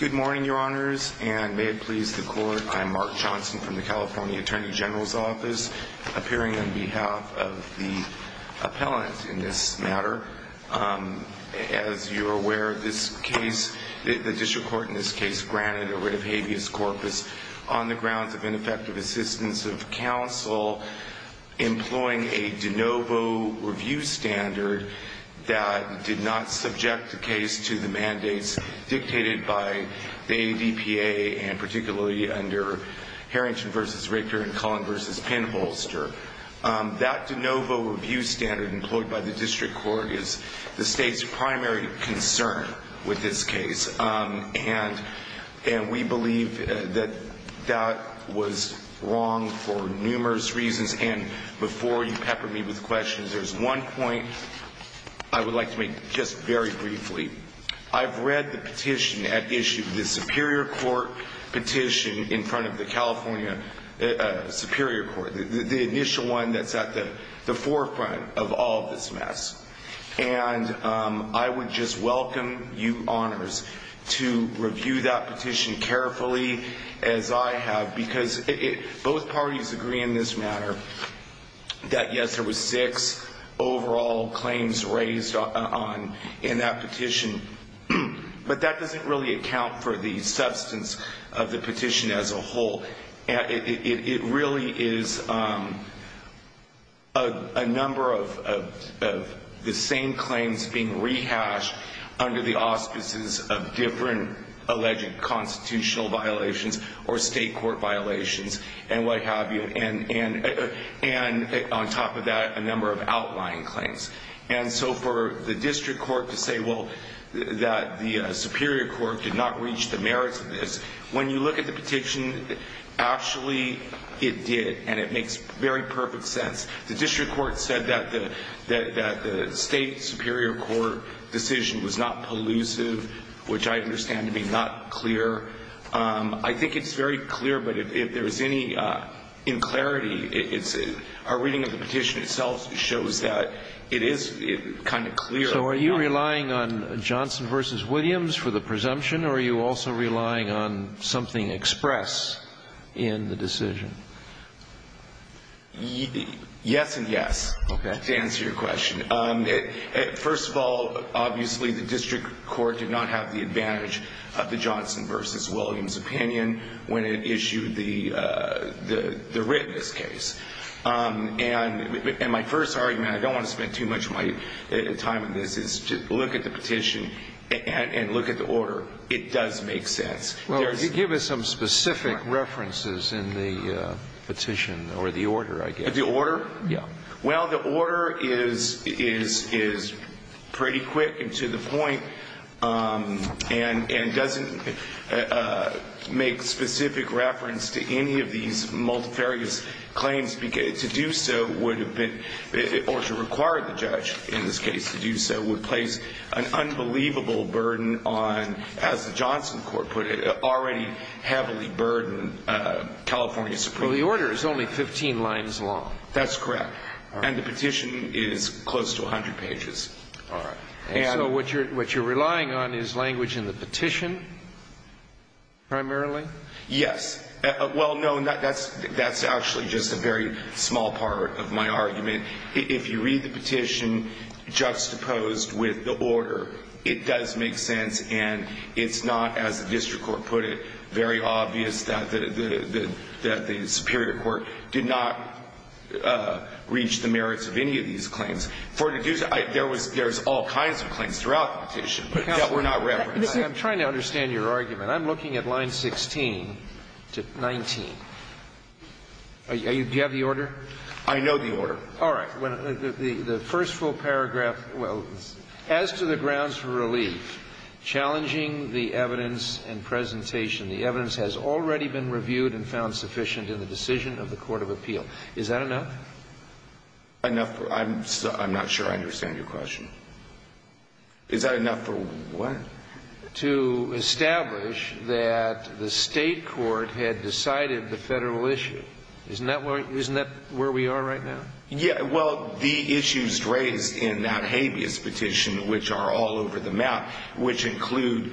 Good morning, your honors, and may it please the court. I'm Mark Johnson from the California Attorney General's Office, appearing on behalf of the appellant in this matter. As you're aware, the district court in this case granted a writ of habeas corpus on the grounds of ineffective assistance of counsel employing a de novo review standard that did not subject the case to the mandates dictated by the ADPA and particularly under Harrington v. Ricker and Cullen v. Penholster. That de novo review standard employed by the district court is the state's primary concern with this case and we believe that that was wrong for numerous reasons. And before you pepper me with questions, there's one point I would like to make just very briefly. I've read the petition at issue, the Superior Court petition in front of the California Superior Court, the initial one that's at the forefront of all of this mess. And I would just welcome you, honors, to review that petition carefully as I have because both parties agree in this matter that yes, there was six overall claims raised in that petition. But that doesn't really account for the substance of the petition as a whole. It really is a number of the same claims being rehashed under the auspices of different alleged constitutional violations or state court violations and what have you. And on top of that, a number of outlying claims. And so for the district court to say, well, that the Superior Court did not reach the merits of this, when you look at the petition, actually it did and it makes very perfect sense. The district court said that the state Superior Court decision was not pollusive, which I understand to be not clear. I think it's very clear, but if there's any unclarity, our reading of the petition itself shows that it is kind of clear. So are you relying on Johnson v. Williams for the presumption or are you also relying on something expressed in the decision? Yes and yes, to answer your question. First of all, obviously the district court did not have the advantage of the Johnson v. Williams opinion when it issued the writ in this case. And my first argument, I don't want to spend too much of my time on this, is to look at the petition and look at the order. It does make sense. Well, give us some specific references in the petition or the order, I guess. The order? Well, the order is pretty quick and to the point and doesn't make specific reference to any of these multifarious claims. To do so would have been, or to require the judge in this case to do so, would place an unbelievable burden on, as the Johnson court put it, already heavily burdened California Supreme Court. So the order is only 15 lines long. That's correct. And the petition is close to 100 pages. And so what you're relying on is language in the petition primarily? Yes. Well, no, that's actually just a very small part of my argument. If you read the petition juxtaposed with the order, it does make sense. And it's not, as the district court put it, very obvious that the superior court did not reach the merits of any of these claims. There's all kinds of claims throughout the petition that were not referenced. I'm trying to understand your argument. I'm looking at line 16 to 19. Do you have the order? I know the order. All right. The first full paragraph, well, as to the grounds for relief, challenging the evidence and presentation, the evidence has already been reviewed and found sufficient in the decision of the court of appeal. Is that enough? I'm not sure I understand your question. Is that enough for what? To establish that the state court had decided the federal issue. Isn't that where we are right now? Yeah, well, the issues raised in that habeas petition, which are all over the map, which include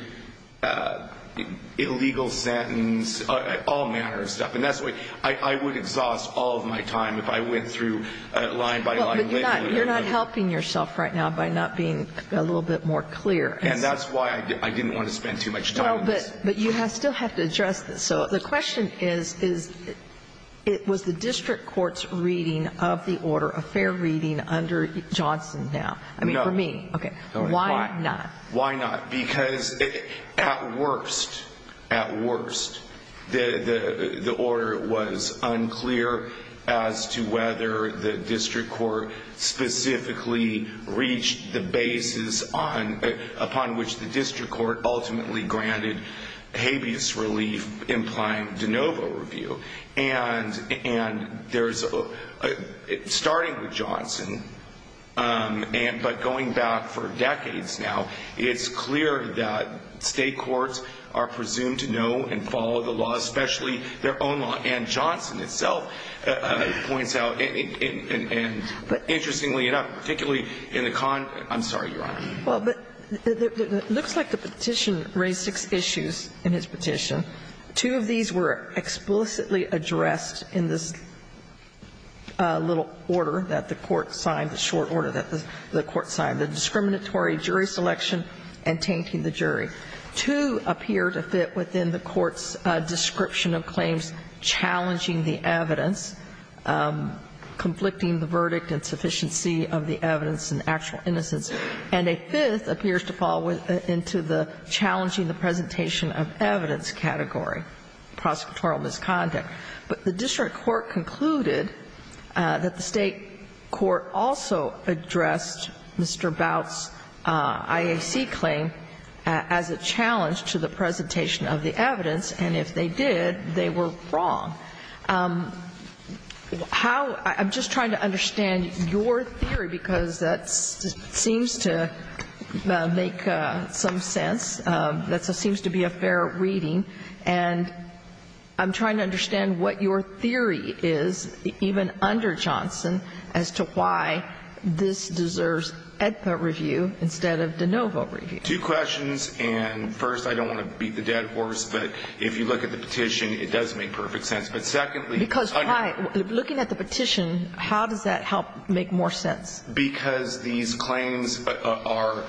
illegal sentence, all manner of stuff. And that's what I would exhaust all of my time if I went through line by line. You're not helping yourself right now by not being a little bit more clear. And that's why I didn't want to spend too much time on this. But you still have to address this. So the question is, was the district court's reading of the order a fair reading under Johnson now? No. I mean, for me. Okay. Why not? Why not? Because at worst, at worst, the order was unclear as to whether the district court specifically reached the basis upon which the district court ultimately granted habeas relief, implying de novo review. And there's, starting with Johnson, but going back for decades now, it's clear that state courts are presumed to know and follow the law, especially their own law. And Johnson itself points out, interestingly enough, particularly in the, I'm sorry, Your Honor. Well, but it looks like the petition raised six issues in his petition. Two of these were explicitly addressed in this little order that the court signed, the short order that the court signed, the discriminatory jury selection and tainting the jury. Two appear to fit within the court's description of claims challenging the evidence, conflicting the verdict and sufficiency of the evidence and actual innocence. And a fifth appears to fall into the challenging the presentation of evidence category, prosecutorial misconduct. But the district court concluded that the state court also addressed Mr. Bout's IAC claim as a challenge to the presentation of the evidence, and if they did, they were wrong. How — I'm just trying to understand your theory, because that seems to make some sense. That seems to be a fair reading. And I'm trying to understand what your theory is, even under Johnson, as to why this deserves etha review instead of de novo review. Two questions. And first, I don't want to beat the dead horse, but if you look at the petition, it does make perfect sense. But secondly — Because why — looking at the petition, how does that help make more sense? Because these claims are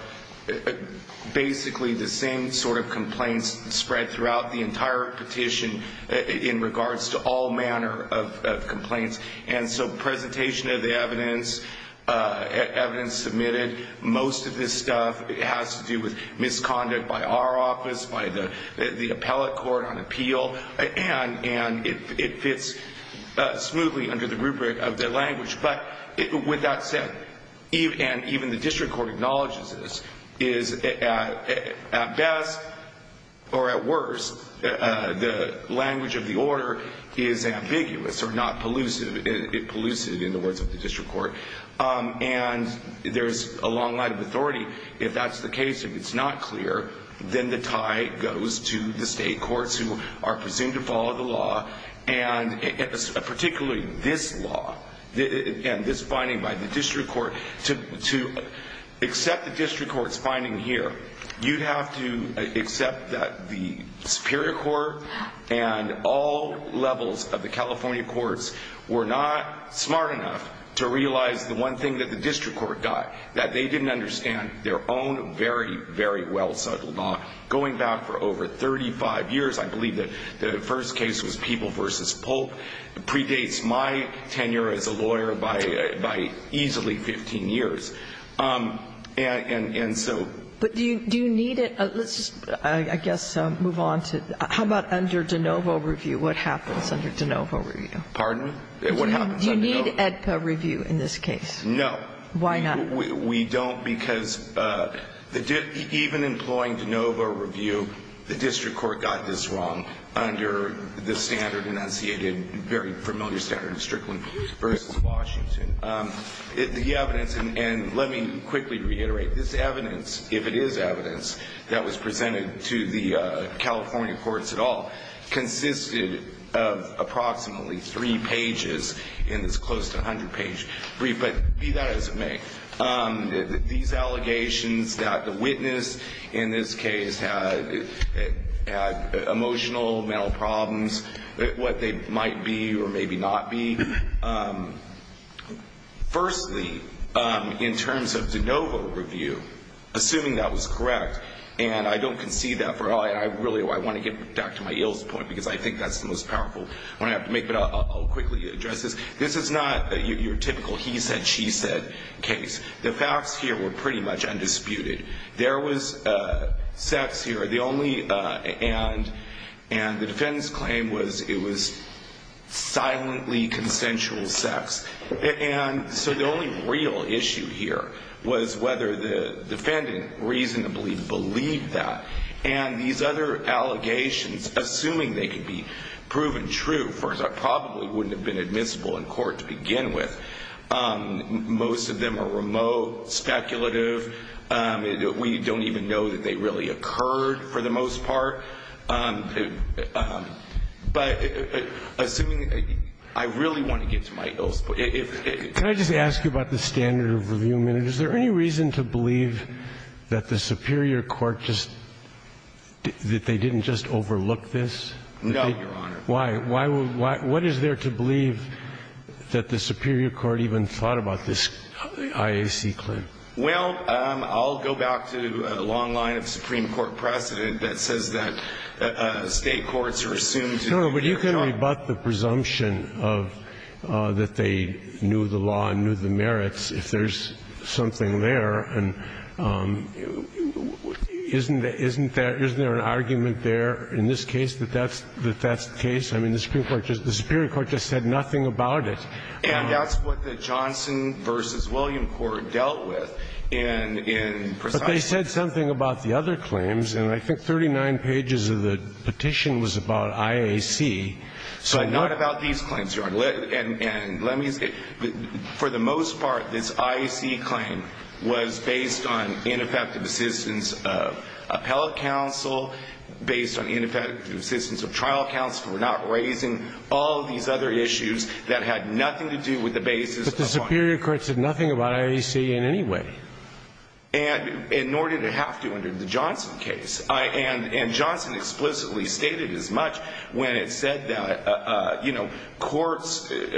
basically the same sort of complaints spread throughout the entire petition in regards to all manner of complaints. And so presentation of the evidence, evidence submitted, most of this stuff has to do with misconduct by our office, by the appellate court on appeal. And it fits smoothly under the rubric of the language. But with that said, and even the district court acknowledges this, is at best, or at worst, the language of the order is ambiguous or not pollusive — pollusive in the words of the district court. And there's a long line of authority. If that's the case, if it's not clear, then the tie goes to the state courts who are presumed to follow the law, and particularly this law and this finding by the district court. To accept the district court's finding here, you'd have to accept that the superior court and all levels of the California courts were not smart enough to realize the one thing that the district court got, that they didn't understand their own very, very well-settled law. Going back for over 35 years, I believe that the first case was People v. Polk. It predates my tenure as a lawyer by easily 15 years. And so — Kagan. Do you need it? Let's just, I guess, move on to — how about under DeNovo review? What happens under DeNovo review? Pardon? What happens under DeNovo? Do you need EDCA review in this case? No. Why not? We don't, because even employing DeNovo review, the district court got this wrong under the standard enunciated, very familiar standard in Strickland v. Washington. The evidence, and let me quickly reiterate, this evidence, if it is evidence, that was presented to the California courts at all, consisted of approximately three pages in this close to 100-page brief. But be that as it may, these allegations that the witness in this case had emotional, mental problems, what they might be or maybe not be, firstly, in terms of DeNovo review, assuming that was correct, and I don't concede that for — I really want to get back to my Iles point, because I think that's the most powerful one I have to make, but I'll quickly address this. This is not your typical he said, she said case. The facts here were pretty much undisputed. There was sex here. The only — and the defendant's claim was it was silently consensual sex. And so the only real issue here was whether the defendant reasonably believed that. And these other allegations, assuming they could be proven true, first, I probably wouldn't have been admissible in court to begin with. Most of them are remote, speculative. We don't even know that they really occurred, for the most part. But assuming — I really want to get to my Iles point. Can I just ask you about the standard of review? Is there any reason to believe that the superior court just — that they didn't just overlook this? No, Your Honor. Why? What is there to believe that the superior court even thought about this IAC claim? Well, I'll go back to a long line of Supreme Court precedent that says that State courts are assumed to be — No, but you can rebut the presumption of — that they knew the law and knew the merits if there's something there. And isn't there — isn't there an argument there in this case that that's the case? I mean, the Supreme Court just — the superior court just said nothing about it. And that's what the Johnson v. William court dealt with in precisely — But they said something about the other claims. And I think 39 pages of the petition was about IAC. So not about these claims, Your Honor. And let me — for the most part, this IAC claim was based on ineffective assistance of appellate counsel, based on ineffective assistance of trial counsel. We're not raising all these other issues that had nothing to do with the basis of IAC. But the superior court said nothing about IAC in any way. And nor did it have to under the Johnson case. And Johnson explicitly stated as much when it said that, you know, courts, in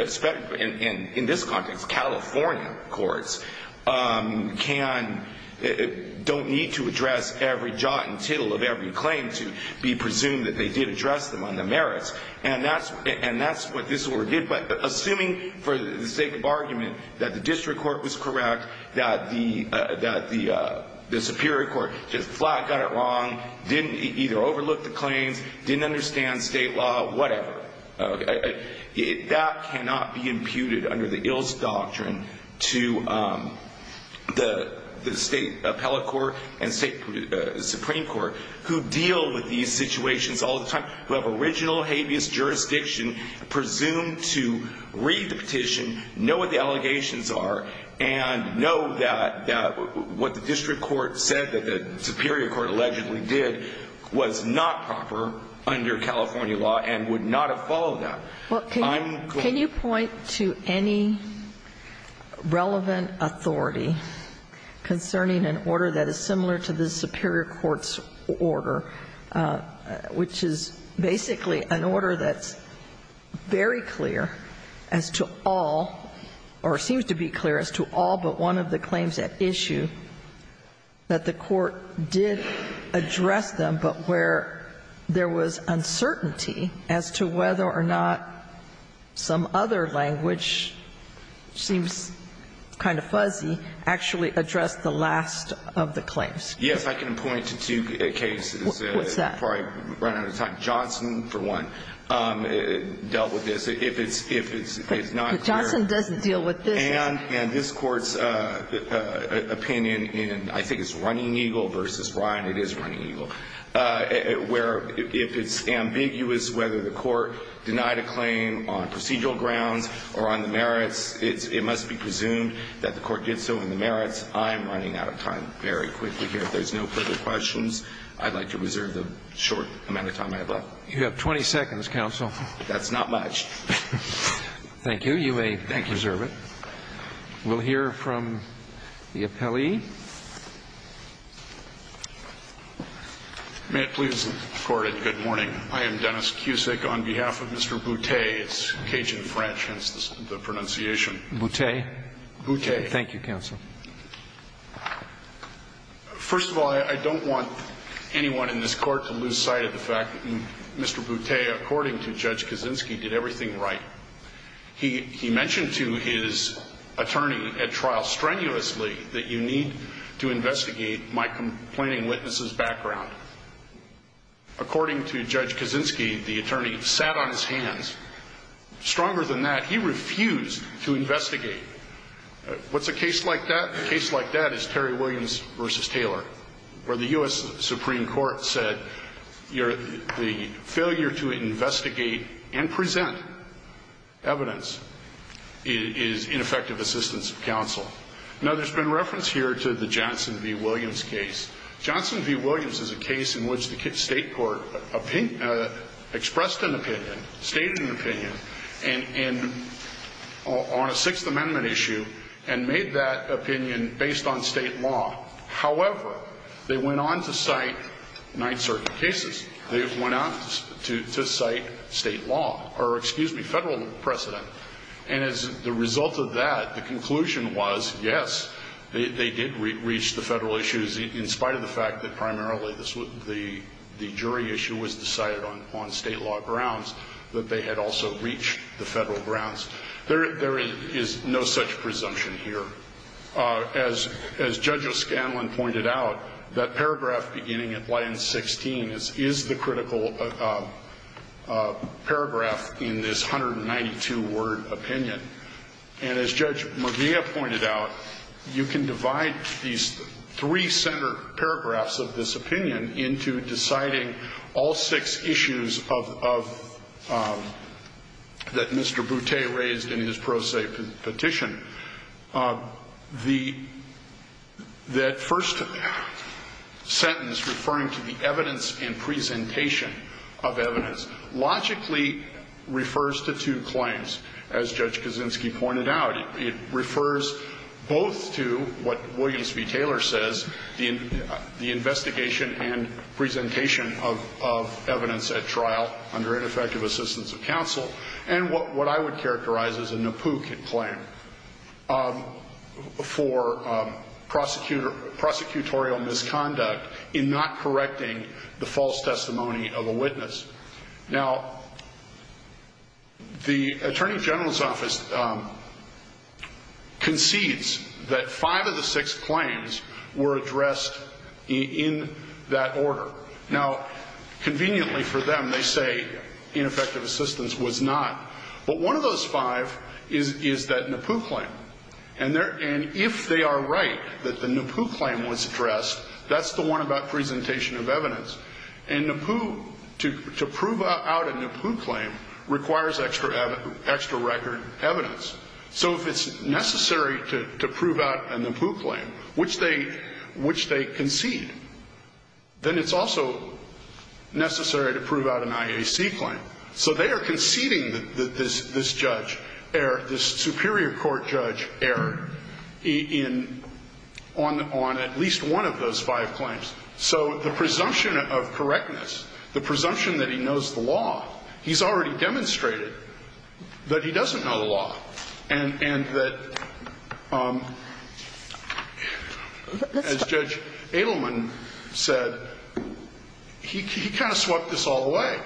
this context, California courts, can — don't need to address every jot and tittle of every claim to be presumed that they did address them on the merits. And that's what this order did. But assuming for the sake of argument that the district court was correct, that the superior court just flat got it wrong, didn't either overlook the claims, didn't understand state law, whatever, that cannot be imputed under the ILLS doctrine to the state appellate court and state supreme court who deal with these situations all the time, who have original habeas jurisdiction, presume to read the petition, know what the allegations are, and know that what the district court said that the superior court allegedly did was not proper under California law and would not have followed that. I'm going to — Well, can you point to any relevant authority concerning an order that is similar to the superior court's order, which is basically an order that's very clear as to all or seems to be clear as to all but one of the claims at issue that the court did address them but where there was uncertainty as to whether or not some other language seems kind of fuzzy actually addressed the last of the claims? Yes, I can point to two cases. What's that? Before I run out of time. Johnson, for one, dealt with this. If it's not clear. But Johnson doesn't deal with this. And this Court's opinion in I think it's Running Eagle versus Ryan, it is Running Eagle, where if it's ambiguous whether the court denied a claim on procedural grounds or on the merits, it must be presumed that the court did so on the merits. I'm running out of time very quickly here. If there's no further questions, I'd like to reserve the short amount of time I have left. You have 20 seconds, counsel. That's not much. Thank you. You may reserve it. We'll hear from the appellee. May it please the Court and good morning. I am Dennis Cusick. On behalf of Mr. Boutte, it's Cajun French, hence the pronunciation. Boutte. Boutte. Thank you, counsel. First of all, I don't want anyone in this Court to lose sight of the fact that Mr. Boutte, according to Judge Kaczynski, did everything right. He mentioned to his attorney at trial strenuously that you need to investigate my complaining witness's background. According to Judge Kaczynski, the attorney sat on his hands. Stronger than that, he refused to investigate. What's a case like that? A case like that is Terry Williams v. Taylor, where the U.S. Supreme Court said the failure to investigate and present evidence is ineffective assistance of counsel. Now, there's been reference here to the Johnson v. Williams case. Johnson v. Williams is a case in which the state court expressed an opinion, stated an opinion on a Sixth Amendment issue and made that opinion based on state law. However, they went on to cite nine certain cases. They went on to cite state law or, excuse me, federal precedent. And as a result of that, the conclusion was, yes, they did reach the federal issues, in spite of the fact that primarily the jury issue was decided on state law grounds, that they had also reached the federal grounds. There is no such presumption here. As Judge O'Scanlan pointed out, that paragraph beginning at line 16 is the critical paragraph in this 192-word opinion. And as Judge Murvea pointed out, you can divide these three center paragraphs of this opinion into deciding all six issues of that Mr. Boutte raised in his pro se petition. That first sentence referring to the evidence and presentation of evidence logically refers to two claims, as Judge Kaczynski pointed out. It refers both to what Williams v. Taylor says, the investigation and presentation of evidence at trial under ineffective assistance of counsel, and what I would refer to as the prosecution for prosecutorial misconduct in not correcting the false testimony of a witness. Now, the Attorney General's Office concedes that five of the six claims were addressed in that order. Now, conveniently for them, they say ineffective assistance was not. But one of those five is that NAPU claim. And if they are right that the NAPU claim was addressed, that's the one about presentation of evidence. And NAPU, to prove out a NAPU claim requires extra record evidence. So if it's necessary to prove out a NAPU claim, which they concede, then it's also necessary to prove out an IAC claim. So they are conceding that this judge, this superior court judge erred on at least one of those five claims. So the presumption of correctness, the presumption that he knows the law, he's already demonstrated that he doesn't know the law. And that, as Judge Edelman said, he kind of swept this all away.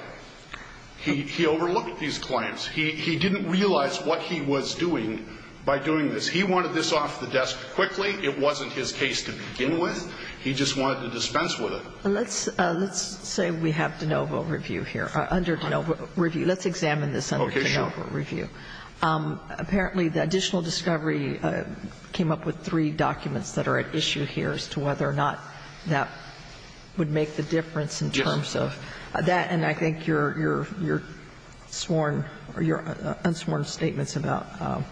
He overlooked these claims. He didn't realize what he was doing by doing this. He wanted this off the desk quickly. It wasn't his case to begin with. He just wanted to dispense with it. And let's say we have de novo review here, under de novo review. Let's examine this under de novo review. Okay, sure. Apparently, the additional discovery came up with three documents that are at issue here as to whether or not that would make the difference in terms of that. And I think your sworn or your unsworn statements about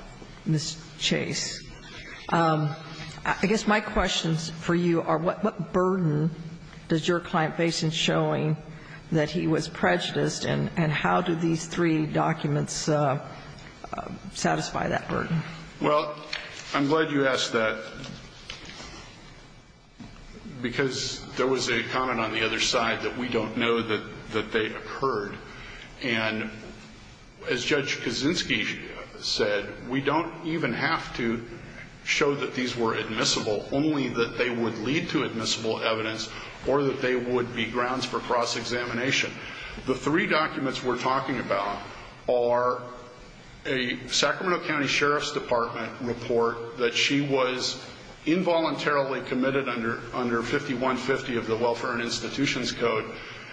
Ms. Chase. I guess my questions for you are what burden does your client face in showing that he was prejudiced, and how do these three documents satisfy that burden? Well, I'm glad you asked that, because there was a comment on the other side that we don't know that they occurred. And as Judge Kaczynski said, we don't even have to show that these were admissible, only that they would lead to admissible evidence or that they would be grounds for cross-examination. The three documents we're talking about are a Sacramento County Sheriff's Department report that she was involuntarily committed under 5150 of the Welfare and Institutions Code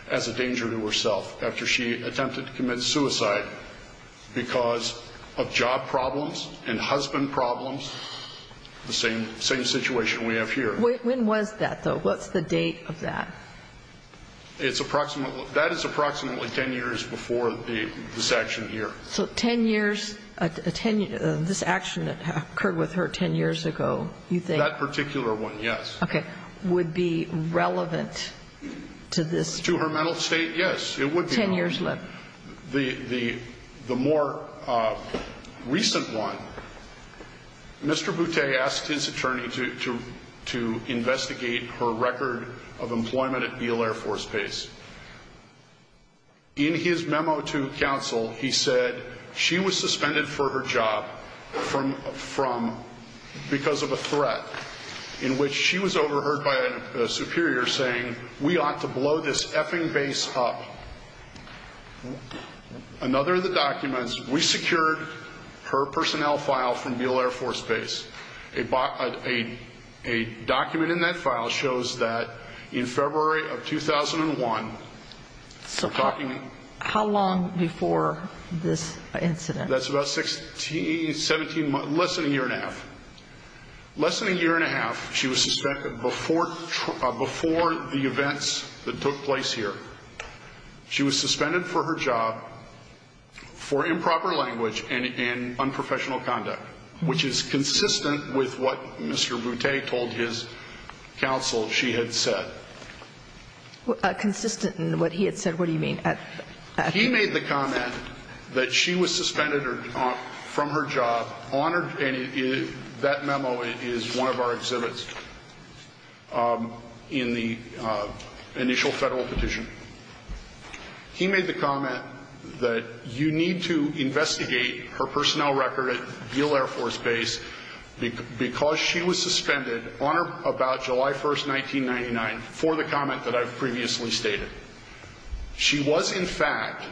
as a danger to herself after she attempted to commit suicide because of job problems and husband problems, the same situation we have here. When was that, though? What's the date of that? It's approximately 10 years before this action here. So 10 years, this action that occurred with her 10 years ago, you think? That particular one, yes. Okay. Would be relevant to this? To her mental state, yes. It would be relevant. Ten years later? The more recent one, Mr. Boutte asked his attorney to investigate her record of employment at Beale Air Force Base. In his memo to counsel, he said she was suspended for her job because of a threat in which she was overheard by a superior saying, we ought to blow this effing base up. Another of the documents, we secured her personnel file from Beale Air Force Base. A document in that file shows that in February of 2001, How long before this incident? That's about 17 months, less than a year and a half. Less than a year and a half, she was suspended before the events that took place here. She was suspended for her job for improper language and unprofessional conduct, which is consistent with what Mr. Boutte told his counsel she had said. Consistent in what he had said? What do you mean? He made the comment that she was suspended from her job, and that memo is one of our exhibits in the initial federal petition. He made the comment that you need to investigate her personnel record at Beale Air Force Base because she was suspended on or about July 1, 1999, for the comment that I've previously stated. She was, in fact,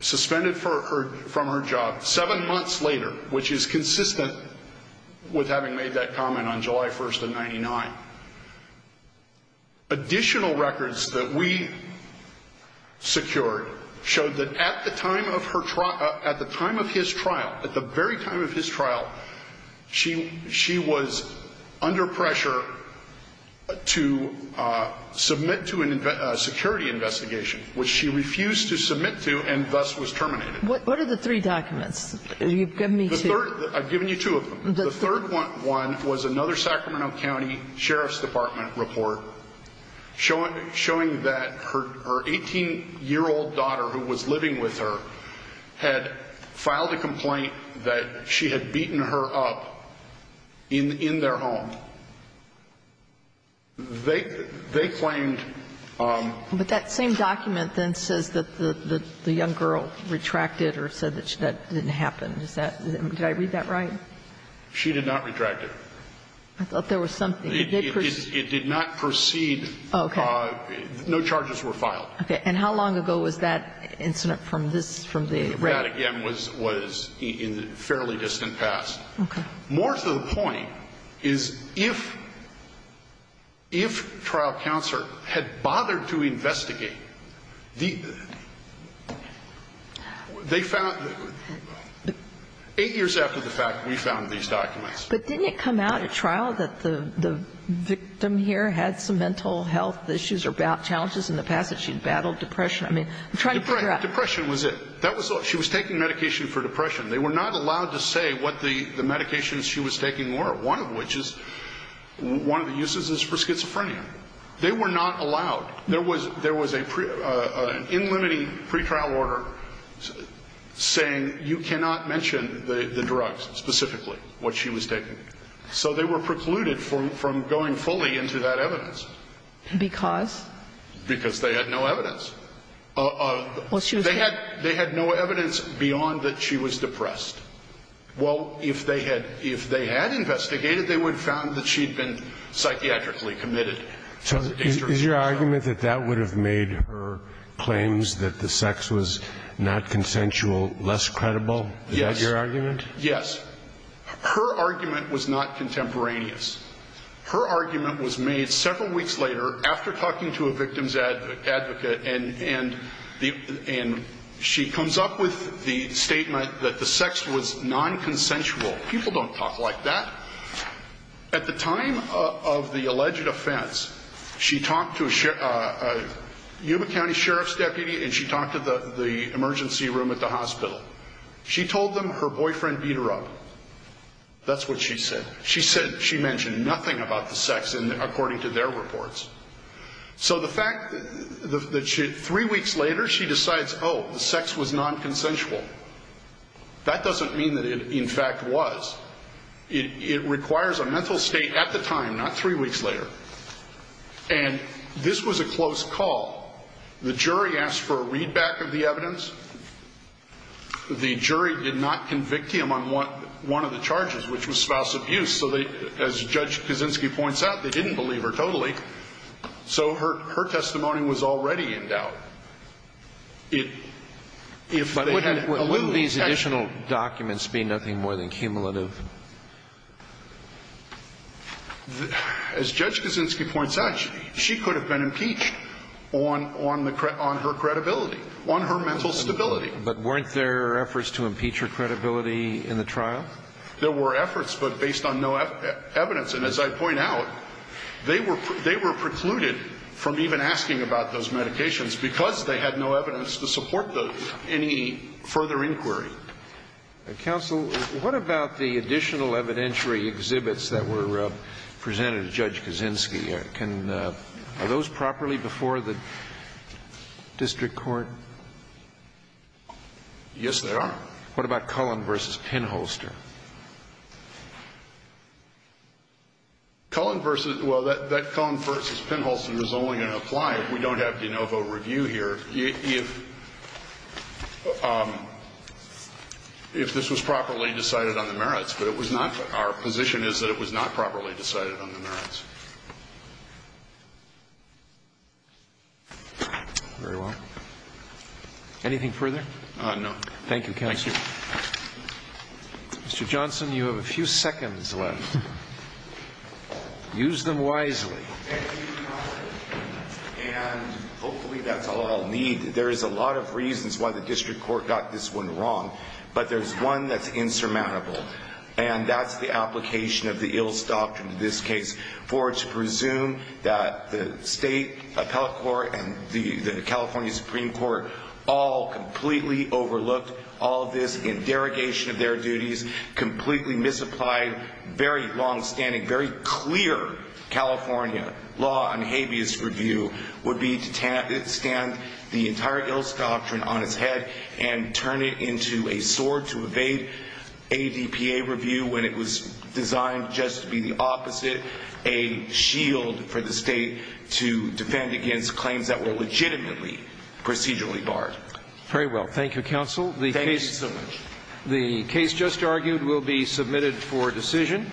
suspended from her job seven months later, which is consistent with having made that comment on July 1, 1999. Additional records that we secured showed that at the time of his trial, at the very time of his trial, she was under pressure to submit to a security investigation, which she refused to submit to and thus was terminated. What are the three documents? You've given me two. I've given you two of them. The third one was another Sacramento County Sheriff's Department report showing that her 18-year-old daughter who was living with her had filed a complaint that she had beaten her up in their home. They claimed that she had beaten her up in their home. But that same document then says that the young girl retracted or said that that didn't happen. Did I read that right? She did not retract it. I thought there was something. It did not proceed. Okay. No charges were filed. Okay. And how long ago was that incident from this, from the rat? The rat, again, was in the fairly distant past. Okay. More to the point is if trial counsel had bothered to investigate, they found eight years after the fact we found these documents. But didn't it come out at trial that the victim here had some mental health issues or challenges in the past that she had battled depression? I mean, I'm trying to figure out. Depression was it. She was taking medication for depression. They were not allowed to say what the medications she was taking were, one of which is one of the uses is for schizophrenia. They were not allowed. There was an in limiting pretrial order saying you cannot mention the drugs specifically, what she was taking. So they were precluded from going fully into that evidence. Because? Because they had no evidence. They had no evidence beyond that she was depressed. Well, if they had investigated, they would have found that she had been psychiatrically committed. So is your argument that that would have made her claims that the sex was not consensual less credible? Yes. Is that your argument? Yes. Her argument was not contemporaneous. Her argument was made several weeks later after talking to a victim's advocate and she comes up with the statement that the sex was non-consensual. People don't talk like that. At the time of the alleged offense, she talked to a Yuma County Sheriff's deputy and she talked to the emergency room at the hospital. She told them her boyfriend beat her up. That's what she said. She mentioned nothing about the sex according to their reports. So the fact that three weeks later she decides, oh, the sex was non-consensual, that doesn't mean that it, in fact, was. It requires a mental state at the time, not three weeks later. And this was a close call. The jury asked for a readback of the evidence. The jury did not convict him on one of the charges, which was spouse abuse. So as Judge Kaczynski points out, they didn't believe her totally. So her testimony was already in doubt. But wouldn't these additional documents be nothing more than cumulative? As Judge Kaczynski points out, she could have been impeached on her credibility, on her mental stability. But weren't there efforts to impeach her credibility in the trial? There were efforts, but based on no evidence. And as I point out, they were precluded from even asking about those medications because they had no evidence to support any further inquiry. Counsel, what about the additional evidentiary exhibits that were presented to Judge Kaczynski? Are those properly before the district court? Yes, they are. What about Cullen v. Pinholster? Cullen versus – well, that Cullen v. Pinholster is only going to apply if we don't have de novo review here. If this was properly decided on the merits, but it was not. Our position is that it was not properly decided on the merits. Very well. Anything further? No. Thank you, counsel. Mr. Johnson, you have a few seconds left. Use them wisely. And hopefully that's all I'll need. There is a lot of reasons why the district court got this one wrong. But there's one that's insurmountable. And that's the application of the Ilse Doctrine in this case. For it to presume that the state appellate court and the California Supreme Court all completely overlooked all of this in derogation of their duties, completely misapplied, very longstanding, very clear California law and habeas review would be to stand the entire Ilse Doctrine on its head and turn it into a sword to evade ADPA review when it was designed just to be the opposite, a shield for the state to defend against claims that were legitimately procedurally barred. Very well. Thank you, counsel. Thank you so much. The case just argued will be submitted for decision.